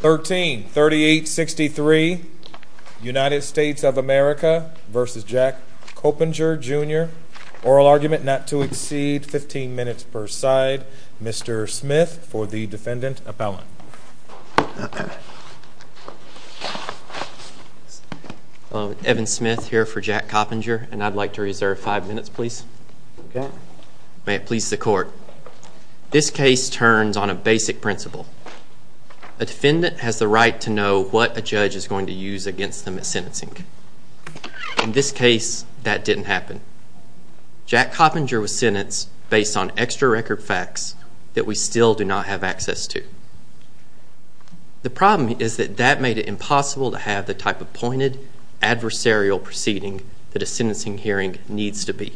133863 United States of America v. Jack Coppenger Jr. Oral argument not to exceed 15 minutes per side. Mr. Smith for the defendant appellant. Evan Smith here for Jack Coppenger and I'd like to reserve five minutes please. May it please the court. This case turns on a basic principle. A defendant has the right to know what a judge is going to use against them at sentencing. In this case that didn't happen. Jack Coppenger was sentenced based on extra record facts that we still do not have access to. The problem is that that made it impossible to have the type of pointed adversarial proceeding that a sentencing hearing needs to be.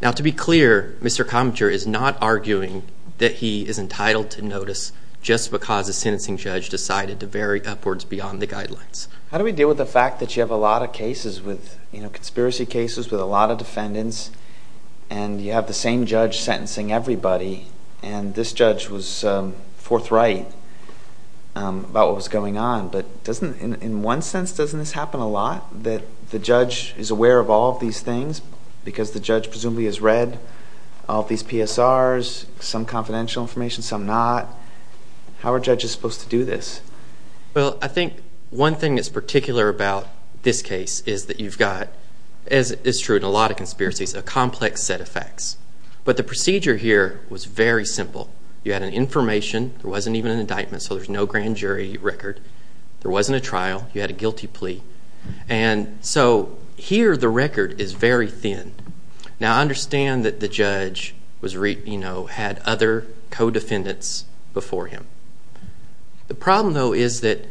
Now to be clear Mr. Coppenger is not arguing that he is entitled to notice just because a sentencing judge decided to vary upwards beyond the guidelines. How do we deal with the fact that you have a lot of cases with you know conspiracy cases with a lot of defendants and you have the same judge sentencing everybody and this judge was forthright about what was going on but doesn't in one sense doesn't this happen a lot that the judge is aware of all these things because the judge presumably has read all these PSRs, some confidential information, some not. How are judges supposed to do this? Well I think one thing that's particular about this case is that you've got, as is true in a lot of conspiracies, a complex set of facts. But the procedure here was very simple. You had an information, there wasn't even an indictment so there's no grand jury record. There wasn't a trial, you had a guilty plea. And so here the record is very thin. Now I understand that the judge had other co-defendants before him. The problem though is that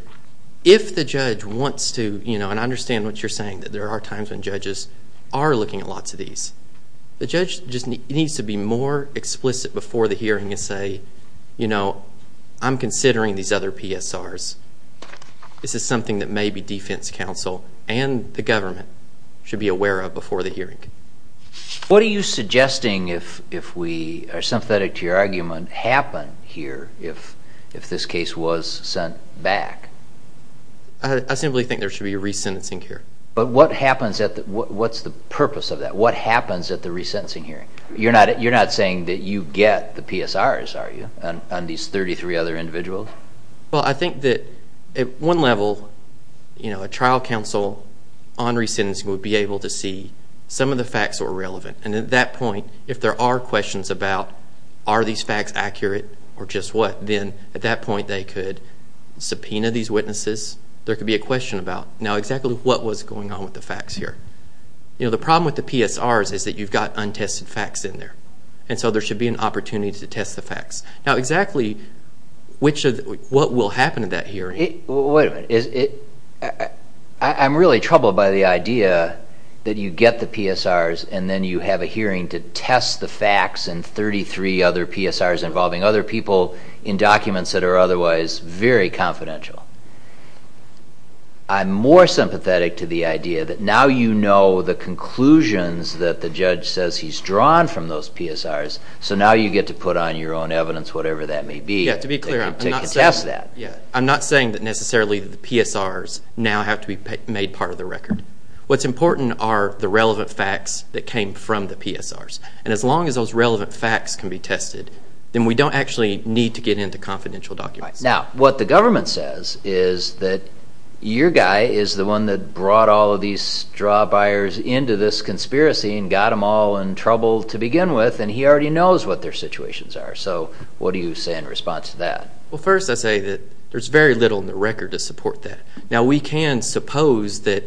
if the judge wants to, you know, and I understand what you're saying that there are times when judges are looking at lots of these. The judge just needs to be more explicit before the hearing and say, you know, I'm considering these other PSRs. This is something that maybe defense counsel and the government should be aware of before the hearing. What are you suggesting if we, or sympathetic to your argument, happen here if this case was sent back? I simply think there should be a re-sentencing hearing. But what happens at the, what's the purpose of that? What happens at the re-sentencing hearing? You're not saying that you get the PSRs are you? On these 33 other individuals? Well, I think that at one level, you know, a trial counsel on re-sentencing would be able to see some of the facts that were relevant. And at that point, if there are questions about are these facts accurate or just what, then at that point they could subpoena these witnesses. There could be a question about now exactly what was going on with the facts here. You know, the problem with the PSRs is that you've got untested facts in there. And so there should be an opportunity to test the facts. Now exactly what will happen at that hearing? Wait a minute. I'm really troubled by the idea that you get the PSRs and then you have a hearing to test the facts in 33 other PSRs involving other people in documents that are otherwise very confidential. I'm more sympathetic to the idea that now you know the conclusions that the judge says he's drawn from those PSRs. So now you get to put on your own evidence, whatever that may be. Yeah, to be clear, I'm not saying that necessarily the PSRs now have to be made part of the record. What's important are the relevant facts that came from the PSRs. And as long as those relevant facts can be tested, then we don't actually need to get into confidential documents. Now, what the government says is that your guy is the one that brought all of these straw buyers into this conspiracy and got them all in trouble to begin with, and he already knows what their situations are. So what do you say in response to that? Well, first I say that there's very little in the record to support that. Now we can suppose that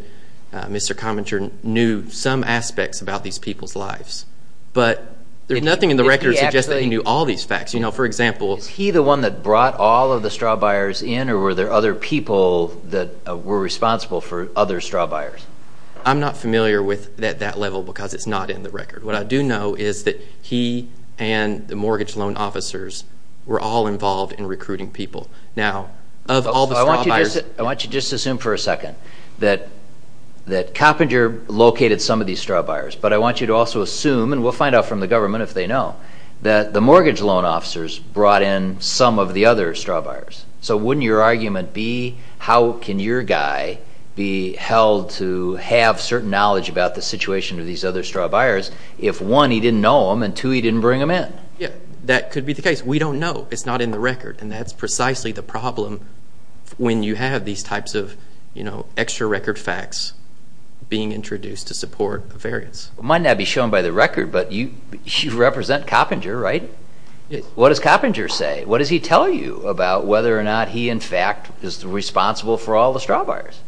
Mr. Cominter knew some aspects about these people's lives. But there's nothing in the record that suggests that he knew all these facts. Is he the one that brought all of the straw buyers in, or were there other people that were responsible for other straw buyers? I'm not familiar with that level because it's not in the record. What I do know is that he and the mortgage loan officers were all involved in recruiting people. I want you to just assume for a second that Coppinger located some of these straw buyers. But I want you to also assume, and we'll find out from the government if they know, that the mortgage loan officers brought in some of the other straw buyers. So wouldn't your argument be, how can your guy be held to have certain knowledge about the situation of these other straw buyers if, one, he didn't know them, and two, he didn't bring them in? Yeah, that could be the case. We don't know. It's not in the record. And that's precisely the problem when you have these types of extra record facts being introduced to support a variance. It might not be shown by the record, but you represent Coppinger, right? What does Coppinger say? What does he tell you about whether or not he, in fact, is responsible for all the straw buyers?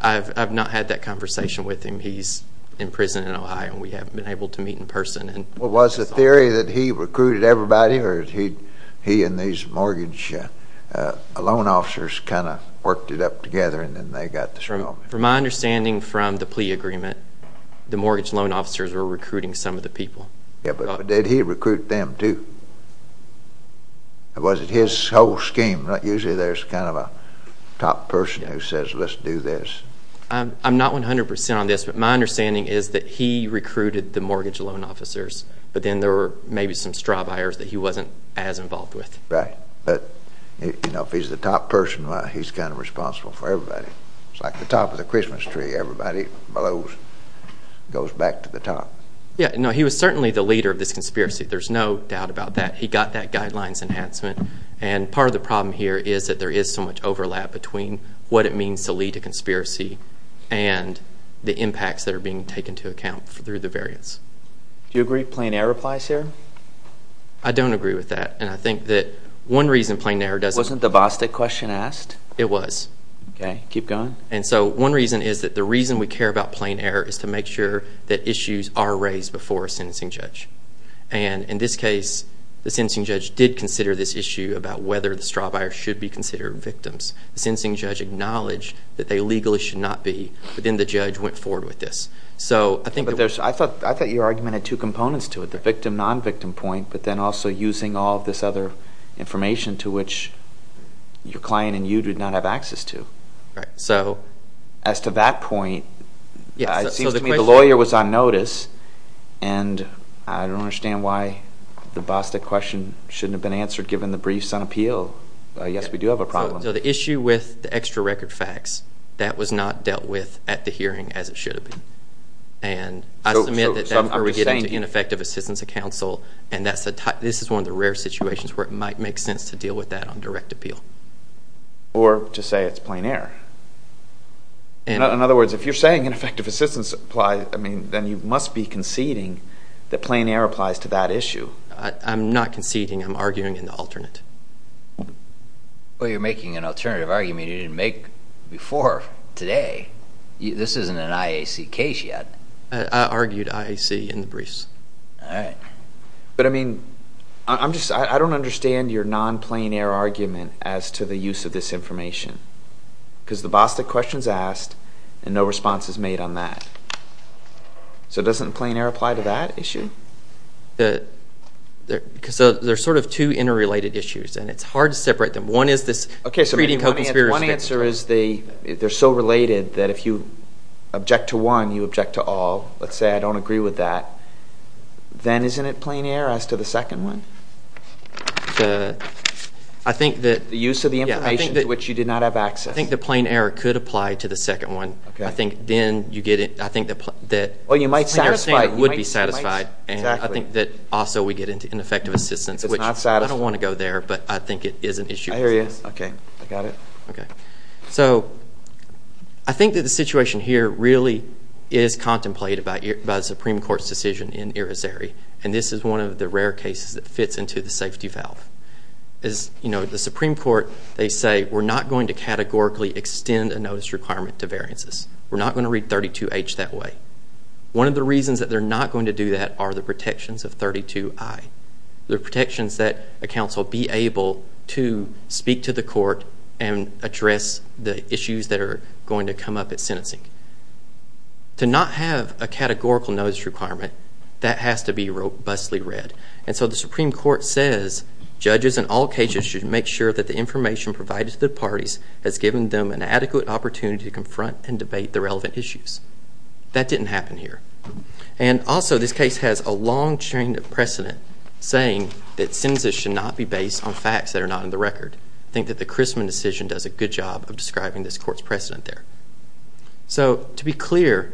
I've not had that conversation with him. He's in prison in Ohio. We haven't been able to meet in person. Well, was the theory that he recruited everybody, or he and these mortgage loan officers kind of worked it up together, and then they got the straw? From my understanding from the plea agreement, the mortgage loan officers were recruiting some of the people. Yeah, but did he recruit them, too? Or was it his whole scheme? Usually there's kind of a top person who says, let's do this. I'm not 100% on this, but my understanding is that he recruited the mortgage loan officers, but then there were maybe some straw buyers that he wasn't as involved with. Right. But, you know, if he's the top person, he's kind of responsible for everybody. It's like the top of the Christmas tree. Everybody blows, goes back to the top. Yeah, no, he was certainly the leader of this conspiracy. There's no doubt about that. He got that guidelines enhancement, and part of the problem here is that there is so much overlap between what it means to lead a conspiracy and the impacts that are being taken into account through the variance. Do you agree plain error applies here? I don't agree with that, and I think that one reason plain error does... Wasn't the Bostic question asked? It was. Okay, keep going. One reason is that the reason we care about plain error is to make sure that issues are raised before a sentencing judge. In this case, the sentencing judge did consider this issue about whether the straw buyer should be considered victims. The sentencing judge acknowledged that they legally should not be, but then the judge went forward with this. I thought your argument had two components to it, the victim-nonvictim point, but then also using all this other information to which your client and you did not have access to. As to that point, it seems to me the lawyer was on notice, and I don't understand why the Bostic question shouldn't have been answered given the briefs on appeal. Yes, we do have a problem. The issue with the extra record facts, that was not dealt with at the hearing as it should have been. I submit that that's where we get into ineffective assistance of counsel, and this is one of the rare situations where it might make sense to deal with that on direct appeal. Or to say it's plain error. In other words, if you're saying ineffective assistance applies, then you must be conceding that plain error applies to that issue. I'm not conceding. I'm arguing in the alternate. Well, you're making an alternative argument you didn't make before today. This isn't an IAC case yet. I argued IAC in the briefs. But, I mean, I don't understand your non-plain error argument as to the use of this information. Because the Bostic question is asked, and no response is made on that. So doesn't plain error apply to that issue? There are sort of two interrelated issues, and it's hard to separate them. One is this creating co-conspiracy. One answer is they're so related that if you object to one, you object to all. Let's say I don't agree with that. Then isn't it plain error as to the second one? I think that... The use of the information to which you did not have access. I think the plain error could apply to the second one. I think then you get it. I think that... Well, you might satisfy... You're saying it would be satisfied. Exactly. And I think that also we get into ineffective assistance, which... It's not satisfying. I don't want to go there, but I think it is an issue. I hear you. Okay. I got it. Okay. So I think that the situation here really is contemplated by the Supreme Court's decision in irisary, and this is one of the rare cases that fits into the safety valve. The Supreme Court, they say, we're not going to categorically extend a notice requirement to variances. We're not going to read 32H that way. One of the reasons that they're not going to do that are the protections of 32I. The protections that a counsel be able to speak to the court and address the issues that are going to come up at sentencing. To not have a categorical notice requirement, that has to be robustly read. And so the Supreme Court says judges in all cases should make sure that the information provided to the parties has given them an adequate opportunity to confront and debate the relevant issues. That didn't happen here. And also, this case has a long chain of precedent saying that sentences should not be based on facts that are not in the record. I think that the Chrisman decision does a good job of describing this court's precedent there. So, to be clear,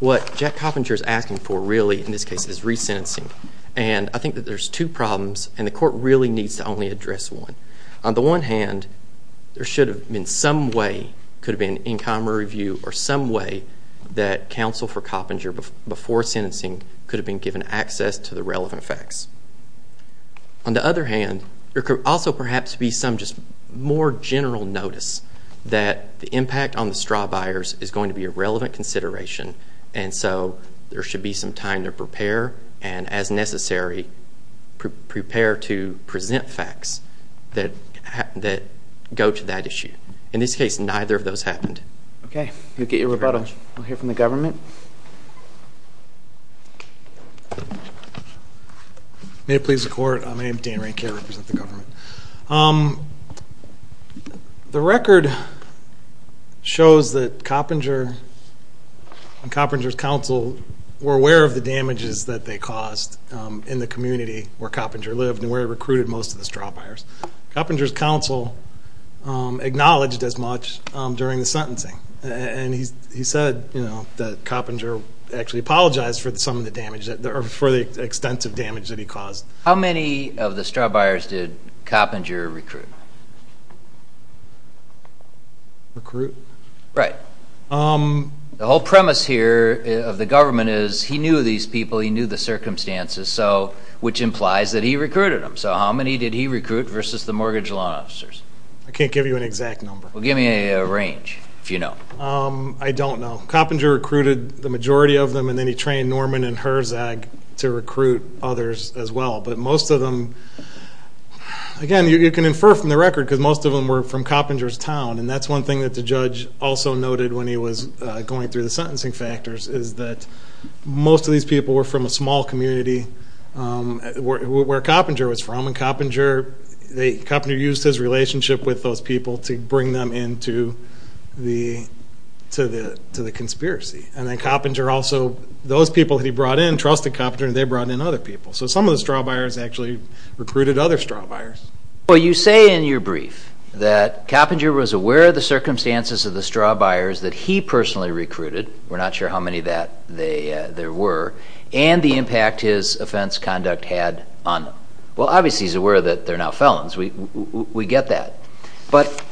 what Jack Coppinger is asking for, really, in this case, is resentencing. And I think that there's two problems, and the court really needs to only address one. On the one hand, there should have been some way, could have been in common review, or some way that counsel for Coppinger, before sentencing, could have been given access to the relevant facts. On the other hand, there could also perhaps be some more general notice that the impact on the straw buyers is going to be a relevant consideration, and so there should be some time to prepare, and as necessary, prepare to present facts that go to that issue. In this case, neither of those happened. Okay, we'll get your rebuttal. We'll hear from the government. May it please the court, my name is Dan Rankin, I represent the government. The record shows that Coppinger and Coppinger's counsel were aware of the damages that they caused in the community where Coppinger lived and where he recruited most of the straw buyers. Coppinger's counsel acknowledged as much during the sentencing, and he said that Coppinger actually apologized for some of the damage, or for the extensive damage that he caused. How many of the straw buyers did Coppinger recruit? Recruit? Right. The whole premise here of the government is he knew these people, he knew the circumstances, which implies that he recruited them. So how many did he recruit versus the mortgage law officers? I can't give you an exact number. Well, give me a range, if you know. I don't know. Coppinger recruited the majority of them, and then he trained Norman and Herzog to recruit others as well. But most of them, again, you can infer from the record, because most of them were from Coppinger's town, and that's one thing that the judge also noted when he was going through the sentencing factors, is that most of these people were from a small community where Coppinger was from, and Coppinger used his relationship with those people to bring them into the conspiracy. And then Coppinger also, those people that he brought in, trusted Coppinger, and they brought in other people. So some of the straw buyers actually recruited other straw buyers. Well, you say in your brief that Coppinger was aware of the circumstances of the straw buyers that he personally recruited. We're not sure how many of that there were, and the impact his offense conduct had on them. Well, obviously he's aware that they're now felons. We get that. But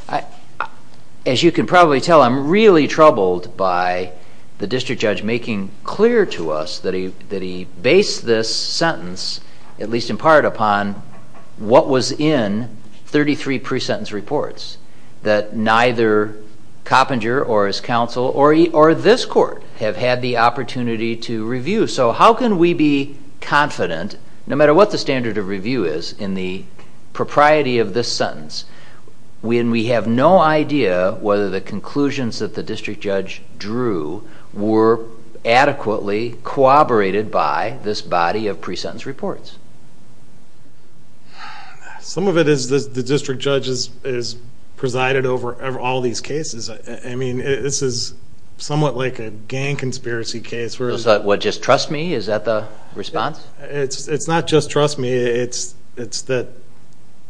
as you can probably tell, I'm really troubled by the district judge making clear to us that he based this sentence, at least in part, upon what was in 33 pre-sentence reports, that neither Coppinger or his counsel or this court have had the opportunity to review. So how can we be confident, no matter what the standard of review is in the propriety of this sentence, when we have no idea whether the conclusions that the district judge drew were adequately corroborated by this body of pre-sentence reports? Some of it is the district judge has presided over all these cases. I mean, this is somewhat like a gang conspiracy case. What, just trust me? Is that the response? It's not just trust me. It's that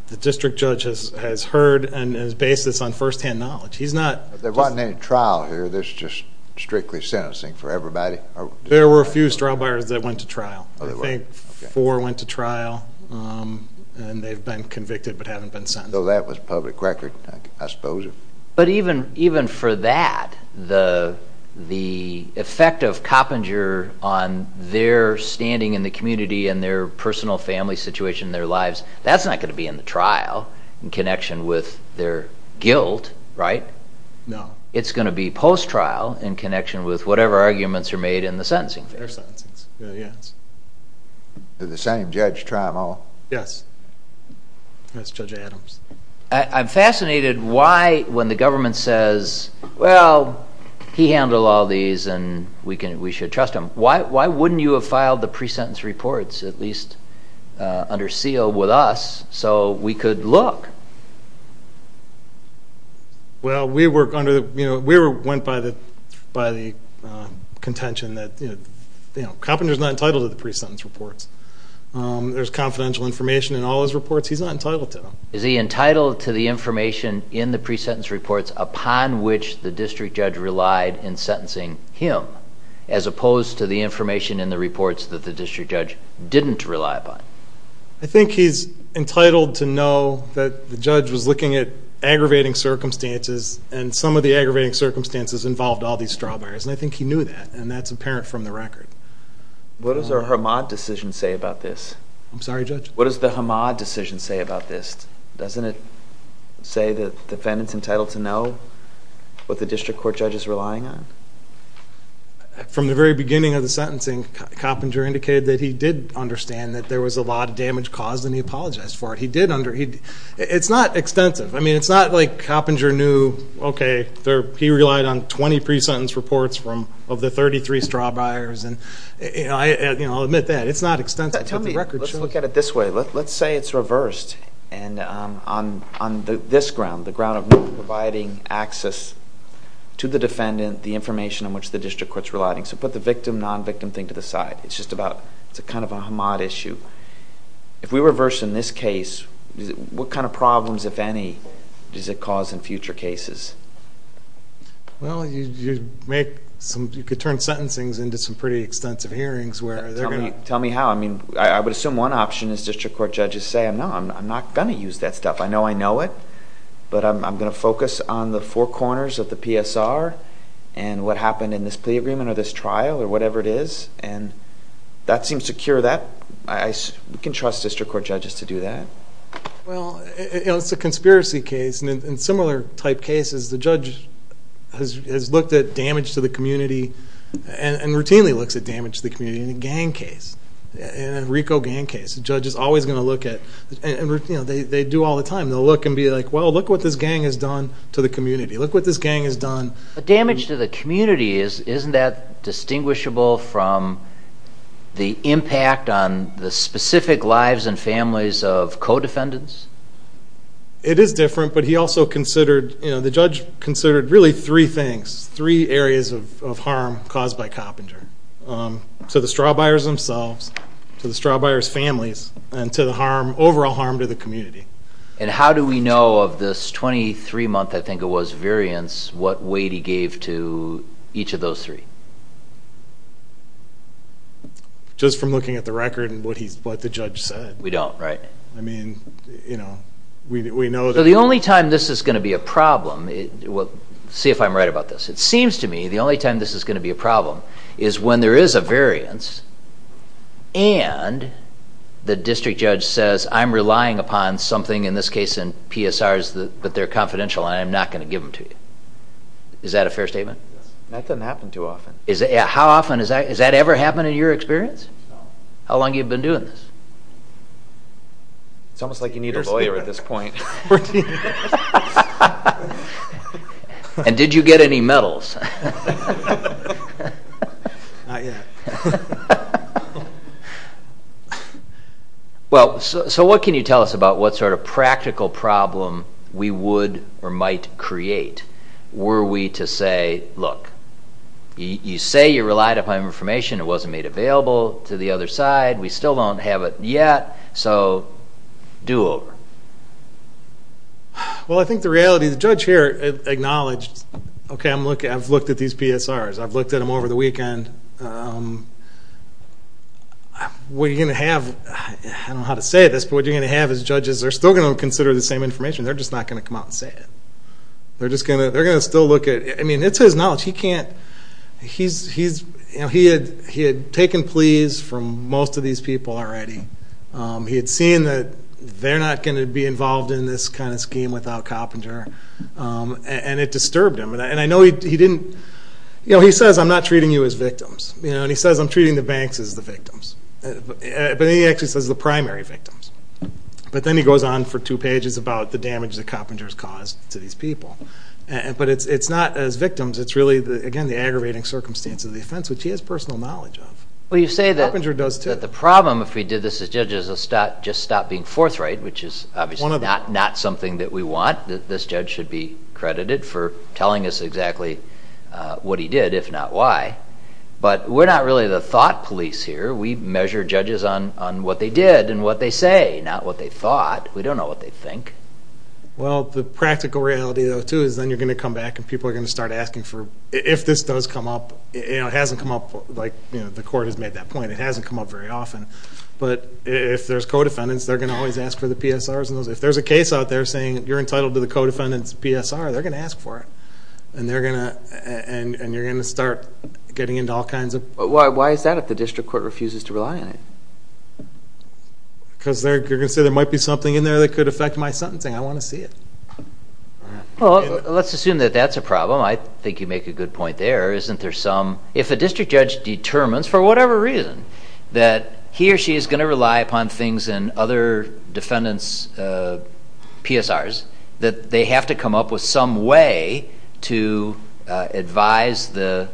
the district judge has heard and has based this on firsthand knowledge. He's not... They're not in any trial here. This is just strictly sentencing for everybody? There were a few straw buyers that went to trial. I think four went to trial, and they've been convicted but haven't been sentenced. So that was public record, I suppose. But even for that, the effect of Coppinger on their standing in the community and their personal family situation, their lives, that's not going to be in the trial in connection with their guilt, right? No. It's going to be post-trial in connection with whatever arguments are made in the sentencing fair. Their sentencings, yes. The same judge trial? Yes. That's Judge Adams. I'm fascinated why, when the government says, well, he handled all these and we should trust him, why wouldn't you have filed the pre-sentence reports, at least under seal with us, so we could look? Well, we went by the contention that Coppinger's not entitled to the pre-sentence reports. There's confidential information in all his reports. He's not entitled to them. Is he entitled to the information in the pre-sentence reports upon which the district judge relied in sentencing him, as opposed to the information in the reports that the district judge didn't rely upon? I think he's entitled to know that the judge was looking at aggravating circumstances, and some of the aggravating circumstances involved all these straw buyers, and I think he knew that, and that's apparent from the record. What does the Hamad decision say about this? I'm sorry, Judge? What does the Hamad decision say about this? Doesn't it say that the defendant's entitled to know what the district court judge is relying on? From the very beginning of the sentencing, Coppinger indicated that he did understand that there was a lot of damage caused, and he apologized for it. It's not extensive. I mean, it's not like Coppinger knew, okay, he relied on 20 pre-sentence reports of the 33 straw buyers. I'll admit that. It's not extensive. Tell me, let's look at it this way. Let's say it's reversed, and on this ground, the ground of not providing access to the defendant, the information on which the district court's relying. So put the victim, non-victim thing to the side. It's just about... it's kind of a Hamad issue. If we reverse in this case, what kind of problems, if any, does it cause in future cases? Well, you make some... you could turn sentencings into some pretty extensive hearings where they're going to... Tell me how. I mean, I would assume one option is district court judges say, no, I'm not going to use that stuff. I know I know it, but I'm going to focus on the four corners of the PSR and what happened in this plea agreement or this trial or whatever it is, and that seems to cure that. We can trust district court judges to do that. Well, it's a conspiracy case, and in similar type cases, the judge has looked at damage to the community and routinely looks at damage to the community in a gang case, in a Rico gang case. The judge is always going to look at... and they do all the time. They'll look and be like, well, look what this gang has done to the community. Look what this gang has done... But damage to the community, isn't that distinguishable from the impact on the specific lives and families of co-defendants? It is different, but he also considered... the judge considered really three things, three areas of harm caused by Coppinger. To the straw buyers themselves, to the straw buyers' families, and to the overall harm to the community. And how do we know of this 23-month, I think it was, variance, what weight he gave to each of those three? Just from looking at the record and what the judge said. We don't, right? I mean, you know, we know that... So the only time this is going to be a problem... see if I'm right about this. It seems to me the only time this is going to be a problem is when there is a variance... and the district judge says, I'm relying upon something, in this case in PSRs, but they're confidential and I'm not going to give them to you. Is that a fair statement? That doesn't happen too often. How often is that? Has that ever happened in your experience? No. How long have you been doing this? It's almost like you need a lawyer at this point. 14 years. And did you get any medals? Not yet. Well, so what can you tell us about what sort of practical problem we would or might create? Were we to say, look, you say you relied upon information, it wasn't made available to the other side, we still don't have it yet, so do over. Well, I think the reality... the judge here acknowledged, okay, I've looked at these PSRs. I've looked at them over the weekend. What you're going to have... I don't know how to say this, but what you're going to have is judges are still going to consider the same information. They're just not going to come out and say it. They're just going to... they're going to still look at... I mean, it's his knowledge. He can't... he's... he had taken pleas from most of these people already. He had seen that they're not going to be involved in this kind of scheme without Coppinger, and it disturbed him. And I know he didn't... you know, he says, I'm not treating you as victims. You know, and he says, I'm treating the banks as the victims. But then he actually says the primary victims. But then he goes on for two pages about the damage that Coppinger's caused to these people. But it's not as victims. It's really, again, the aggravating circumstance of the offense, which he has personal knowledge of. Well, you say that the problem, if we did this as judges, is just stop being forthright, which is obviously not something that we want. This judge should be credited for telling us exactly what he did, if not why. But we're not really the thought police here. We measure judges on what they did and what they say, not what they thought. We don't know what they think. Well, the practical reality, though, too, is then you're going to come back and people are going to start asking for... if this does come up. You know, it hasn't come up like the court has made that point. It hasn't come up very often. But if there's co-defendants, they're going to always ask for the PSRs. If there's a case out there saying you're entitled to the co-defendant's PSR, they're going to ask for it, and you're going to start getting into all kinds of... Why is that if the district court refuses to rely on it? Because you're going to say there might be something in there that could affect my sentencing. I want to see it. Well, let's assume that that's a problem. I think you make a good point there. Isn't there some... if a district judge determines, for whatever reason, that he or she is going to rely upon things in other defendants' PSRs, that they have to come up with some way to advise the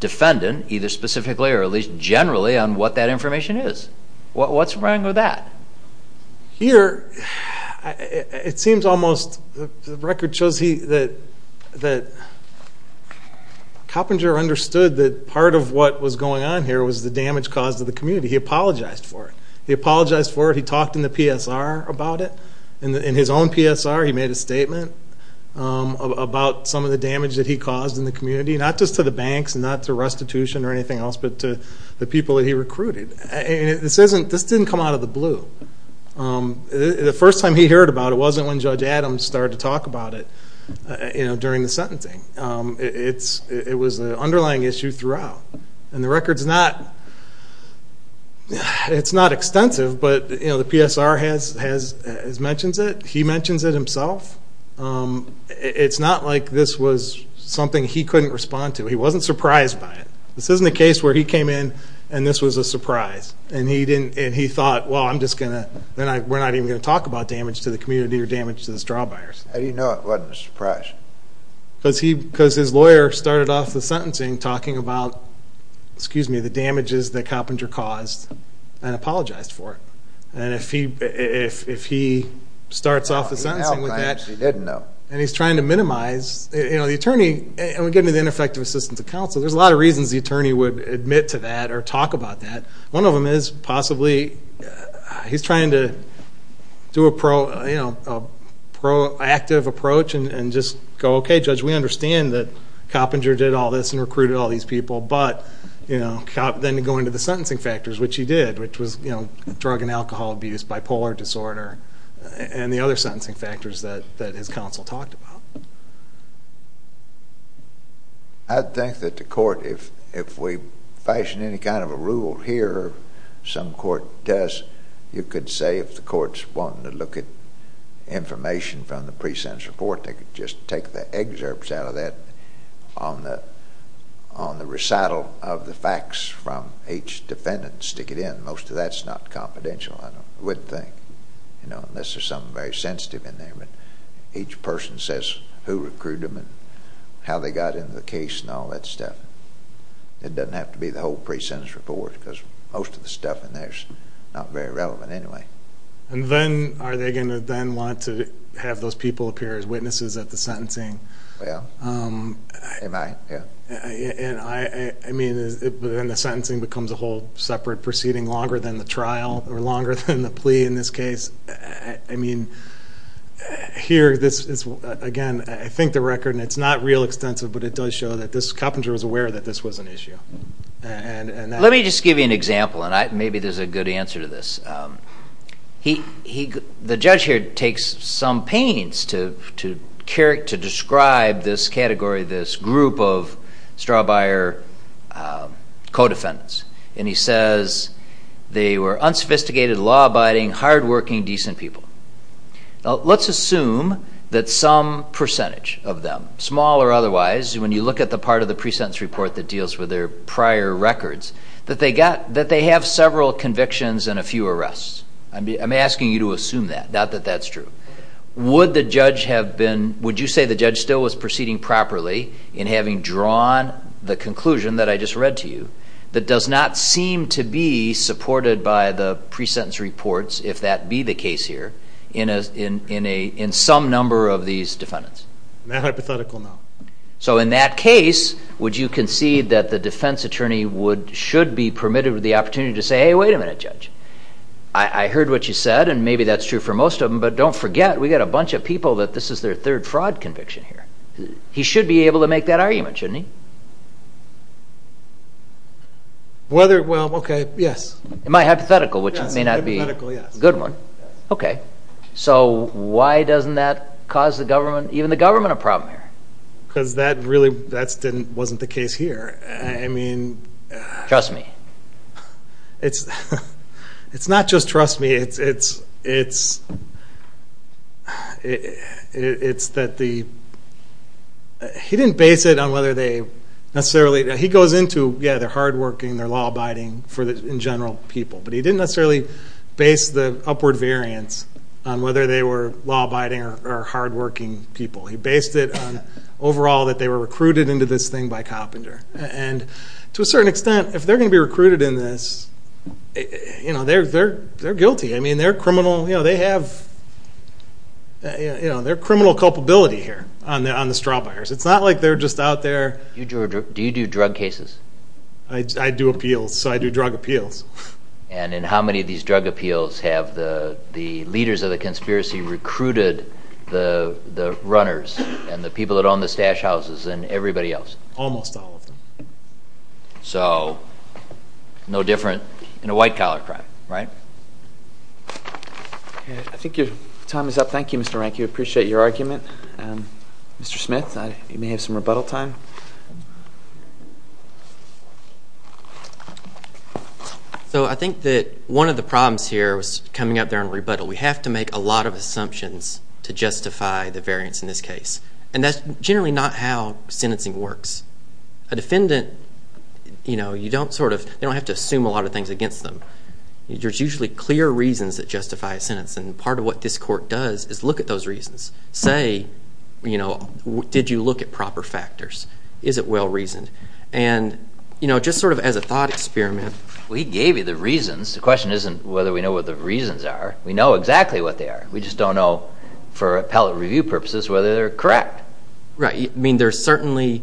defendant, either specifically or at least generally, on what that information is. What's wrong with that? Here, it seems almost... the record shows that Coppinger understood that part of what was going on here was the damage caused to the community. He apologized for it. He apologized for it. He talked in the PSR about it. In his own PSR, he made a statement about some of the damage that he caused in the community, not just to the banks and not to restitution or anything else, but to the people that he recruited. This didn't come out of the blue. The first time he heard about it wasn't when Judge Adams started to talk about it during the sentencing. It was an underlying issue throughout. And the record's not... it's not extensive, but the PSR has mentioned it. He mentions it himself. It's not like this was something he couldn't respond to. He wasn't surprised by it. This isn't a case where he came in and this was a surprise. And he thought, well, I'm just going to... we're not even going to talk about damage to the community or damage to the straw buyers. How do you know it wasn't a surprise? Because his lawyer started off the sentencing talking about, excuse me, the damages that Coppinger caused and apologized for it. And if he starts off the sentencing with that... He didn't know. And he's trying to minimize... The attorney, and we get into the ineffective assistance of counsel, there's a lot of reasons the attorney would admit to that or talk about that. One of them is possibly he's trying to do a proactive approach and just go, okay, Judge, we understand that Coppinger did all this and recruited all these people. But then to go into the sentencing factors, which he did, which was drug and alcohol abuse, bipolar disorder, and the other sentencing factors that his counsel talked about. I think that the court, if we fashion any kind of a rule here, some court does, you could say if the court's wanting to look at information from the pre-sentence report, they could just take the excerpts out of that on the recital of the facts from each defendant and stick it in. Most of that's not confidential, I would think, unless there's something very sensitive in there. But each person says who recruited them and how they got into the case and all that stuff. It doesn't have to be the whole pre-sentence report because most of the stuff in there is not very relevant anyway. And then are they going to then want to have those people appear as witnesses at the sentencing? Well, they might, yeah. I mean, then the sentencing becomes a whole separate proceeding longer than the trial or longer than the plea in this case. I mean, here this is, again, I think the record, and it's not real extensive, but it does show that Coppinger was aware that this was an issue. Let me just give you an example, and maybe there's a good answer to this. The judge here takes some pains to describe this category, this group of straw-buyer co-defendants, and he says they were unsophisticated, law-abiding, hard-working, decent people. Let's assume that some percentage of them, small or otherwise, when you look at the part of the pre-sentence report that deals with their prior records, that they have several convictions and a few arrests. I'm asking you to assume that, not that that's true. Would you say the judge still was proceeding properly in having drawn the conclusion that I just read to you that does not seem to be supported by the pre-sentence reports, if that be the case here, in some number of these defendants? Not hypothetical, no. So in that case, would you concede that the defense attorney should be permitted the opportunity to say, hey, wait a minute, judge, I heard what you said, and maybe that's true for most of them, but don't forget, we've got a bunch of people that this is their third fraud conviction here. He should be able to make that argument, shouldn't he? Whether, well, okay, yes. Am I hypothetical, which may not be a good one. Okay, so why doesn't that cause the government, even the government, a problem here? Because that really wasn't the case here. I mean... Trust me. It's not just trust me. It's that the... He didn't base it on whether they necessarily... He goes into, yeah, they're hardworking, they're law-abiding, in general, people, but he didn't necessarily base the upward variance on whether they were law-abiding or hardworking people. He based it on, overall, that they were recruited into this thing by Coppinger. And to a certain extent, if they're going to be recruited in this, you know, they're guilty. I mean, they're criminal, you know, they have... You know, they're criminal culpability here on the straw buyers. It's not like they're just out there... Do you do drug cases? I do appeals, so I do drug appeals. And in how many of these drug appeals have the leaders of the conspiracy recruited the runners and the people that own the stash houses and everybody else? Almost all of them. So no different in a white-collar crime, right? I think your time is up. Thank you, Mr. Rank. We appreciate your argument. Mr. Smith, you may have some rebuttal time. So I think that one of the problems here was coming up there on rebuttal. We have to make a lot of assumptions to justify the variance in this case. And that's generally not how sentencing works. A defendant, you know, you don't sort of... They don't have to assume a lot of things against them. There's usually clear reasons that justify a sentence, and part of what this court does is look at those reasons. Say, you know, did you look at proper factors? Is it well-reasoned? And, you know, just sort of as a thought experiment... We gave you the reasons. The question isn't whether we know what the reasons are. We know exactly what they are. We just don't know, for appellate review purposes, whether they're correct. Right. I mean, there's certainly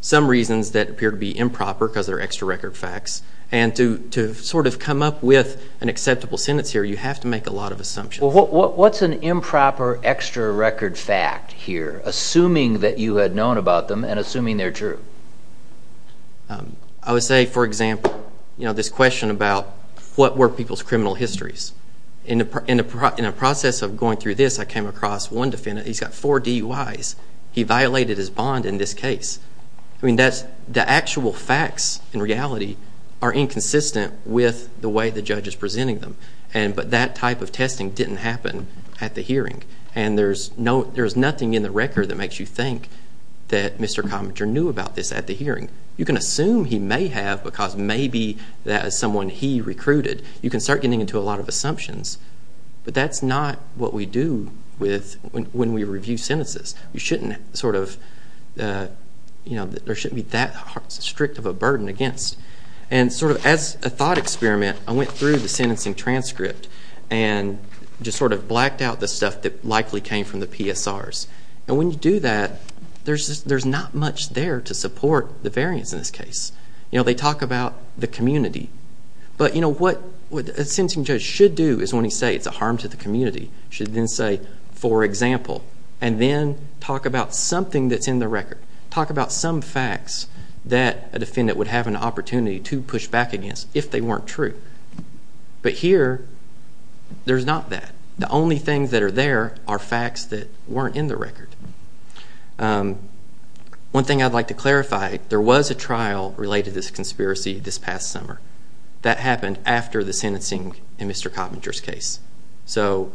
some reasons that appear to be improper because they're extra-record facts. And to sort of come up with an acceptable sentence here, you have to make a lot of assumptions. Well, what's an improper extra-record fact here, assuming that you had known about them and assuming they're true? I would say, for example, you know, what were people's criminal histories? In the process of going through this, I came across one defendant. He's got four DUIs. He violated his bond in this case. I mean, the actual facts in reality are inconsistent with the way the judge is presenting them. But that type of testing didn't happen at the hearing, and there's nothing in the record that makes you think that Mr. Cominter knew about this at the hearing. You can assume he may have because maybe as someone he recruited, you can start getting into a lot of assumptions. But that's not what we do when we review sentences. You shouldn't sort of, you know, there shouldn't be that strict of a burden against. And sort of as a thought experiment, I went through the sentencing transcript and just sort of blacked out the stuff that likely came from the PSRs. And when you do that, there's not much there to support the variance in this case. You know, they talk about the community. But, you know, what a sentencing judge should do is when he says it's a harm to the community, should then say, for example, and then talk about something that's in the record. Talk about some facts that a defendant would have an opportunity to push back against if they weren't true. But here, there's not that. The only things that are there are facts that weren't in the record. One thing I'd like to clarify, there was a trial related to this conspiracy this past summer. That happened after the sentencing in Mr. Coppinger's case. So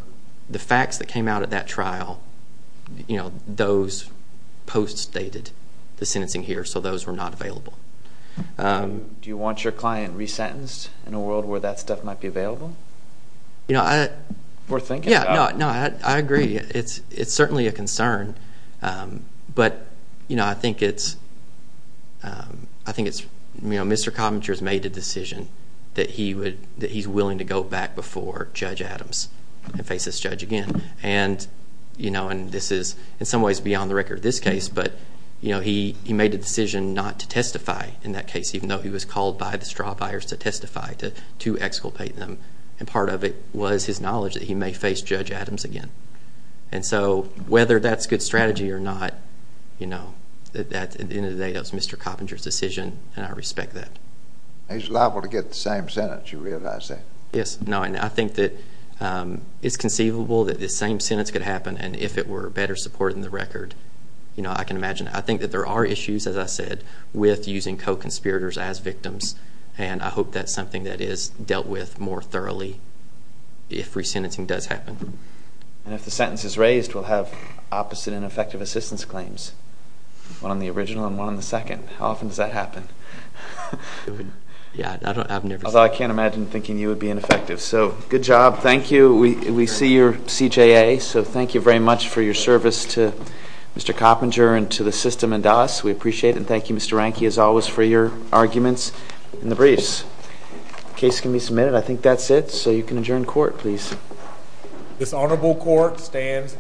the facts that came out of that trial, you know, those post-stated the sentencing here, so those were not available. Do you want your client resentenced in a world where that stuff might be available? You know, I agree. It's certainly a concern. But, you know, I think it's Mr. Coppinger's made a decision that he's willing to go back before Judge Adams and face this judge again. And, you know, and this is in some ways beyond the record this case, but, you know, he made a decision not to testify in that case, even though he was called by the straw buyers to testify, to exculpate them. And part of it was his knowledge that he may face Judge Adams again. And so whether that's a good strategy or not, you know, at the end of the day, that was Mr. Coppinger's decision, and I respect that. He's liable to get the same sentence, you realize that? Yes. No, and I think that it's conceivable that the same sentence could happen, and if it were better supported in the record, you know, I can imagine. I think that there are issues, as I said, with using co-conspirators as victims, and I hope that's something that is dealt with more thoroughly if resentencing does happen. And if the sentence is raised, we'll have opposite and effective assistance claims, one on the original and one on the second. How often does that happen? Yeah, I've never seen it. Although I can't imagine thinking you would be ineffective. So good job. Thank you. We see your CJA, so thank you very much for your service to Mr. Coppinger and to the system and to us. We appreciate it, and thank you, Mr. Ranke, as always, for your arguments in the briefs. Case can be submitted. I think that's it, so you can adjourn court, please. This honorable court stands adjourned.